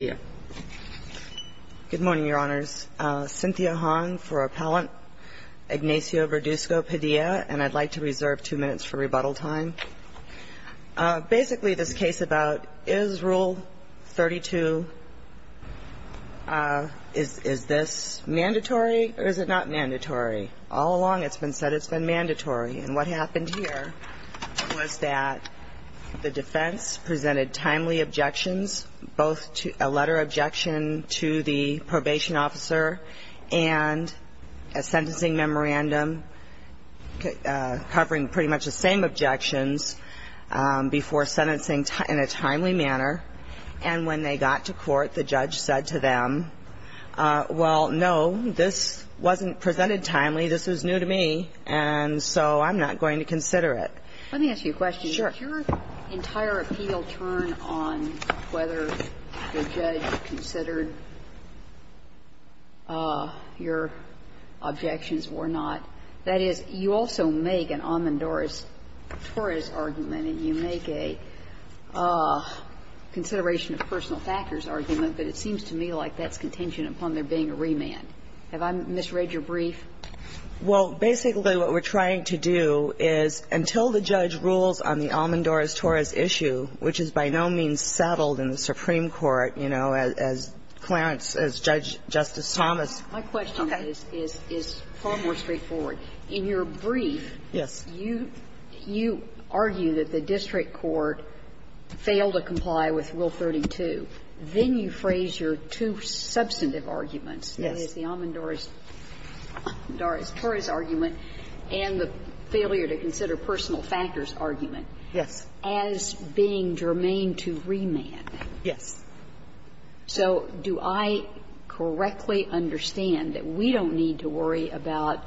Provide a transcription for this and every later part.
Good morning, Your Honors. Cynthia Hong for Appellant Ignacio Verduzco-Padilla, and I'd like to reserve two minutes for rebuttal time. Basically, this case about is Rule 32, is this mandatory or is it not mandatory? All along it's been said it's been mandatory. And what happened here was that the defense presented timely objections, both a letter objection to the probation officer and a sentencing memorandum covering pretty much the same objections before sentencing in a timely manner. And when they got to court, the judge said to them, well, no, this wasn't presented timely, this was new to me, and so I'm not going to consider it. Let me ask you a question. Sure. Did your entire appeal turn on whether the judge considered your objections or not? That is, you also make an amandores tortis argument and you make a consideration personal factors argument, but it seems to me like that's contention upon there being a remand. Have I misread your brief? Well, basically, what we're trying to do is, until the judge rules on the amandores tortis issue, which is by no means settled in the Supreme Court, you know, as Clarence as Judge Justice Thomas. My question is far more straightforward. In your brief, you argue that the district court failed to comply with Rule 32. Then you phrase your two substantive arguments, that is, the amandores tortis argument and the failure to consider personal factors argument as being germane to remand. Yes. So do I correctly understand that we don't need to worry about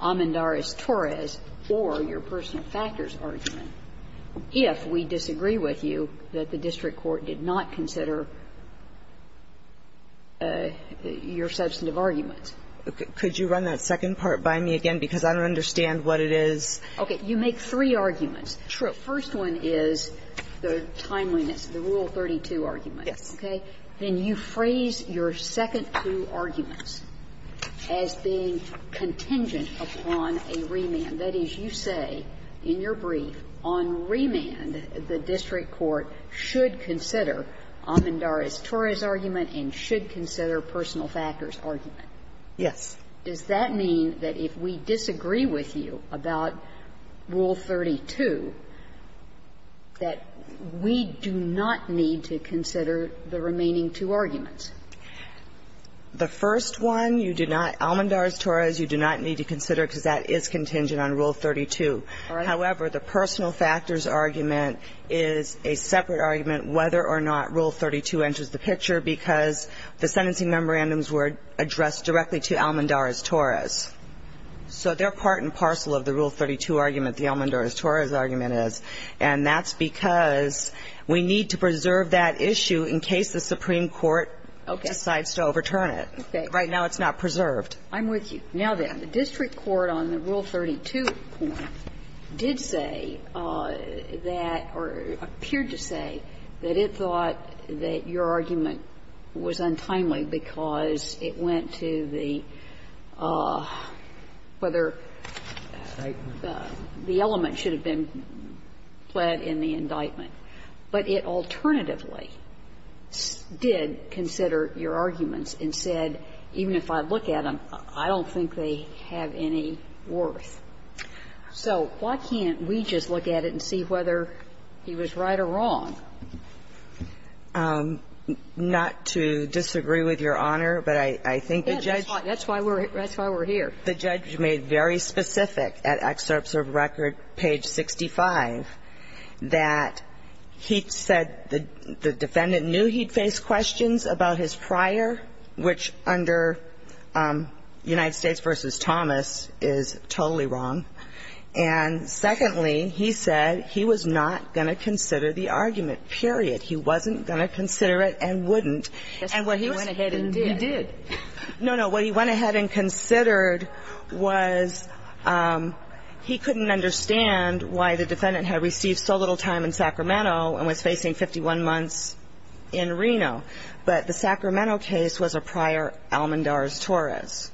amandores tortis or your substantive arguments, or do we disagree with you that the district court did not consider your substantive arguments? Could you run that second part by me again, because I don't understand what it is. Okay. You make three arguments. The first one is the timeliness, the Rule 32 argument. Yes. Okay. Then you phrase your second two arguments as being contingent upon a remand. That is, you say in your brief on remand the district court should consider amandores tortis argument and should consider personal factors argument. Yes. Does that mean that if we disagree with you about Rule 32, that we do not need to consider the remaining two arguments? The first one, you do not need to consider amandores tortis because that is contingent on Rule 32. However, the personal factors argument is a separate argument whether or not Rule 32 enters the picture because the sentencing memorandums were addressed directly to amandores tortis. So they're part and parcel of the Rule 32 argument, the amandores tortis argument is. And that's because we need to preserve that issue in case the Supreme Court decides to overturn it. Okay. Right now it's not preserved. I'm with you. Now, then, the district court on the Rule 32 point did say that or appeared to say that it thought that your argument was untimely because it went to the whether the element should have been pled in the indictment. But it alternatively did consider your arguments and said, even if I look at them, I don't think they have any worth. So why can't we just look at it and see whether he was right or wrong? Not to disagree with Your Honor, but I think the judge ---- That's why we're here. The judge made very specific at Excerpts of Record, page 65, that he said the defendant knew he'd face questions about his prior, which under United States v. Thomas is totally wrong. And secondly, he said he was not going to consider the argument, period. He wasn't going to consider it and wouldn't. And what he was ---- He went ahead and did. No, no. What he went ahead and considered was he couldn't understand why the defendant had received so little time in Sacramento and was facing 51 months in Reno. But the Sacramento case was a prior Almendarez-Torres.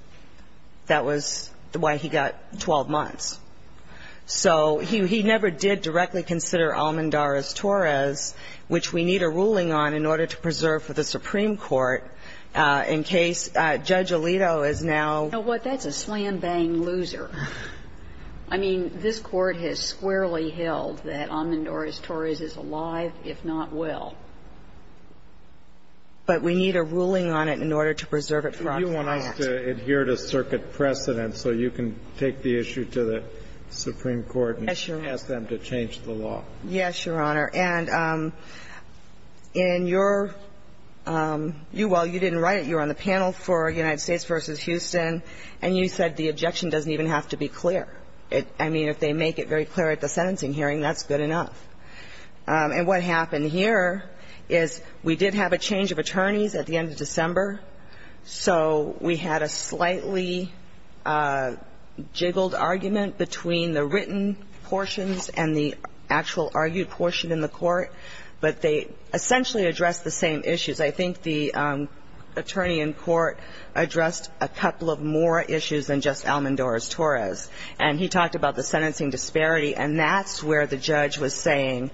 That was why he got 12 months. So he never did directly consider Almendarez-Torres, which we need a ruling on in order to preserve for the Supreme Court in case Judge Alito is now ---- You know what? That's a slam-bang loser. I mean, this Court has squarely held that Almendarez-Torres is alive, if not well. But we need a ruling on it in order to preserve it for our client. Do you want us to adhere to circuit precedent so you can take the issue to the Supreme Court and ask them to change the law? Yes, Your Honor. And in your ---- you, while you didn't write it, you were on the panel for United States v. Houston, and you said the objection doesn't even have to be clear. I mean, if they make it very clear at the sentencing hearing, that's good enough. And what happened here is we did have a change of attorneys at the end of December, so we had a slightly jiggled argument between the written portions and the actual argued portion in the court, but they essentially addressed the same issues. I think the attorney in court addressed a couple of more issues than just Almendarez-Torres, and he talked about the sentencing disparity, and that's where the judge was saying,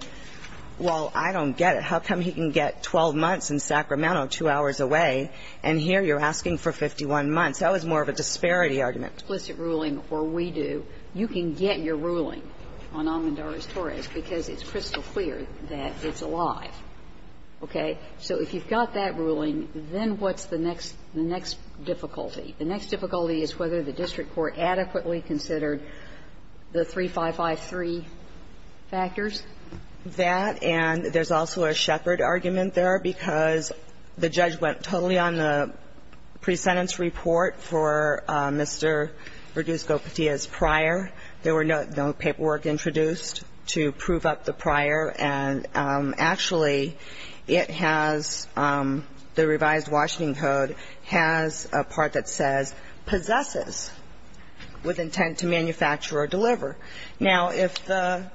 well, I don't get it. How come he can get 12 months in Sacramento, two hours away, and here you're asking for 51 months? That was more of a disparity argument. If you've got an explicit ruling, or we do, you can get your ruling on Almendarez-Torres because it's crystal clear that it's alive. Okay? So if you've got that ruling, then what's the next ---- the next difficulty? The next difficulty is whether the district court adequately considered the 3553 factors. That, and there's also a Shepard argument there, because the judge went totally on the pre-sentence report for Mr. Rodriguez-Gopetia's prior. There were no paperwork introduced to prove up the prior, and actually, it has the revised Washington Code has a part that says, possesses with intent to manufacture or deliver. Now, if the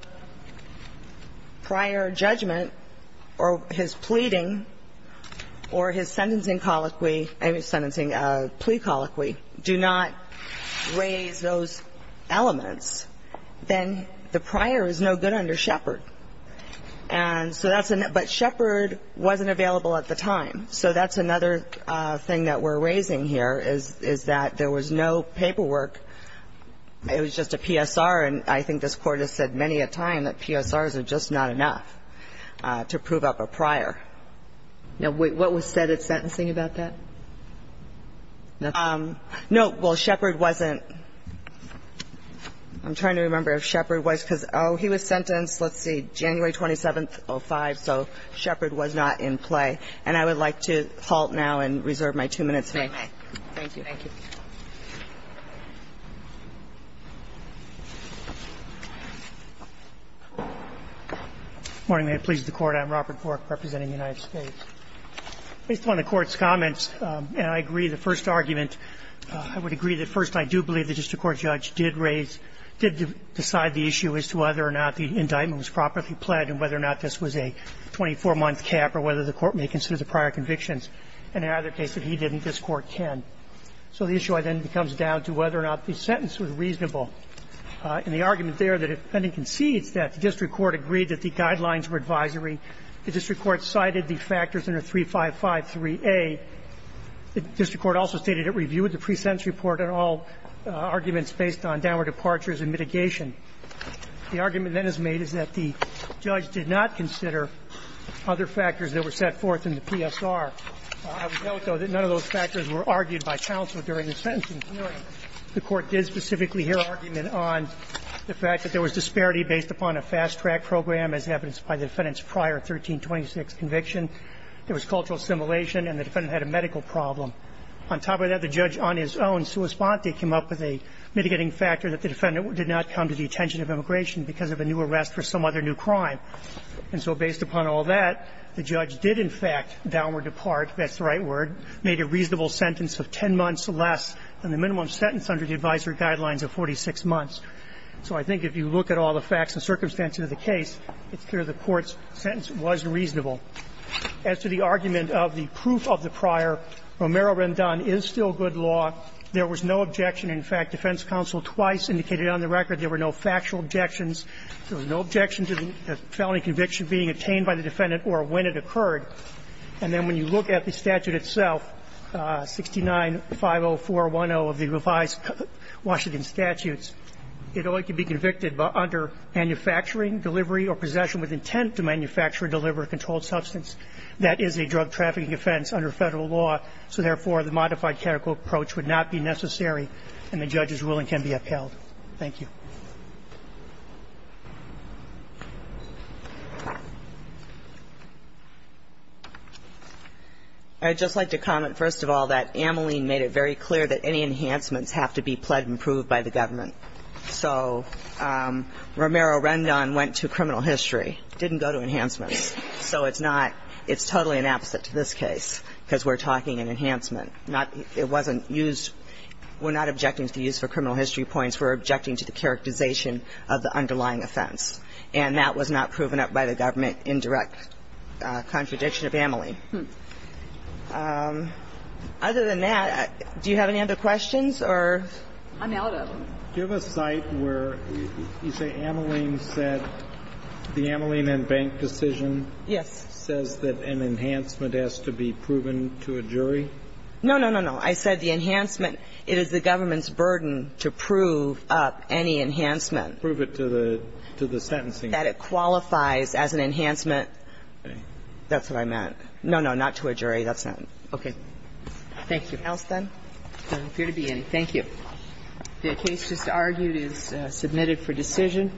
prior judgment or his pleading or his sentencing colleague has a prior that is not available at the time, then the prior is no good under Shepard. And so that's an ---- but Shepard wasn't available at the time, so that's another thing that we're raising here, is that there was no paperwork, it was just a PSR, and I think this Court has said many a time that PSRs are just not enough to prove up a prior. Now, what was said at sentencing about that? No. Well, Shepard wasn't ---- I'm trying to remember if Shepard was, because, oh, he was sentenced, let's see, January 27th, 05, so Shepard was not in play. And I would like to halt now and reserve my two minutes, if I may. Thank you. Thank you. Roberts. Good morning, ma'am. Pleased to court. I'm Robert Cork, representing the United States. Based on the Court's comments, and I agree the first argument, I would agree that first, I do believe the district court judge did raise ---- did decide the issue as to whether or not the indictment was properly pledged and whether or not this was a 24-month cap or whether the Court may consider the prior convictions. And in either case, if he didn't, this Court can. So the issue then comes down to whether or not the sentence was reasonable. And the argument there that if pending concedes that the district court agreed that the guidelines were advisory, the district court cited the factors under 3553A. The district court also stated it reviewed the pre-sentence report and all arguments based on downward departures and mitigation. The argument then is made is that the judge did not consider other factors that were set forth in the PSR. I would note, though, that none of those factors were argued by counsel during the sentencing hearing. The Court did specifically hear argument on the fact that there was disparity based upon a fast-track program as evidenced by the defendant's prior 1326 conviction. There was cultural assimilation, and the defendant had a medical problem. On top of that, the judge on his own, sua sponte, came up with a mitigating factor that the defendant did not come to the attention of immigration because of a new arrest for some other new crime. And so based upon all that, the judge did in fact downward depart, that's the right word, made a reasonable sentence of 10 months less than the minimum sentence under the advisory guidelines of 46 months. So I think if you look at all the facts and circumstances of the case, it's clear the Court's sentence was reasonable. As to the argument of the proof of the prior, Romero-Rendon is still good law. There was no objection. In fact, defense counsel twice indicated on the record there were no factual objections. There was no objection to the felony conviction being attained by the defendant or when it occurred. And then when you look at the statute itself, 69-50410 of the revised Washington Statutes, it only can be convicted under manufacturing, delivery or possession with intent to manufacture or deliver a controlled substance. That is a drug trafficking offense under Federal law. So, therefore, the modified categorical approach would not be necessary, and the judge's ruling can be upheld. Thank you. I would just like to comment, first of all, that Ameline made it very clear that any enhancements have to be pled and proved by the government. So Romero-Rendon went to criminal history, didn't go to enhancements. So it's not – it's totally an opposite to this case, because we're talking in enhancement. Not – it wasn't used – we're not objecting to the use for criminal history points. We're objecting to the characterization of the underlying offense. And that was not proven up by the government in direct contradiction of Ameline. Other than that, do you have any other questions, or? I'm out of them. Do you have a site where you say Ameline said – the Ameline and Bank decision? Yes. Says that an enhancement has to be proven to a jury? No, no, no, no. I said the enhancement – it is the government's burden to prove up any enhancement. Prove it to the – to the sentencing. That it qualifies as an enhancement. Okay. That's what I meant. No, no, not to a jury. That's not – okay. Thank you. Anything else, then? There doesn't appear to be any. Thank you. The case just argued is submitted for decision.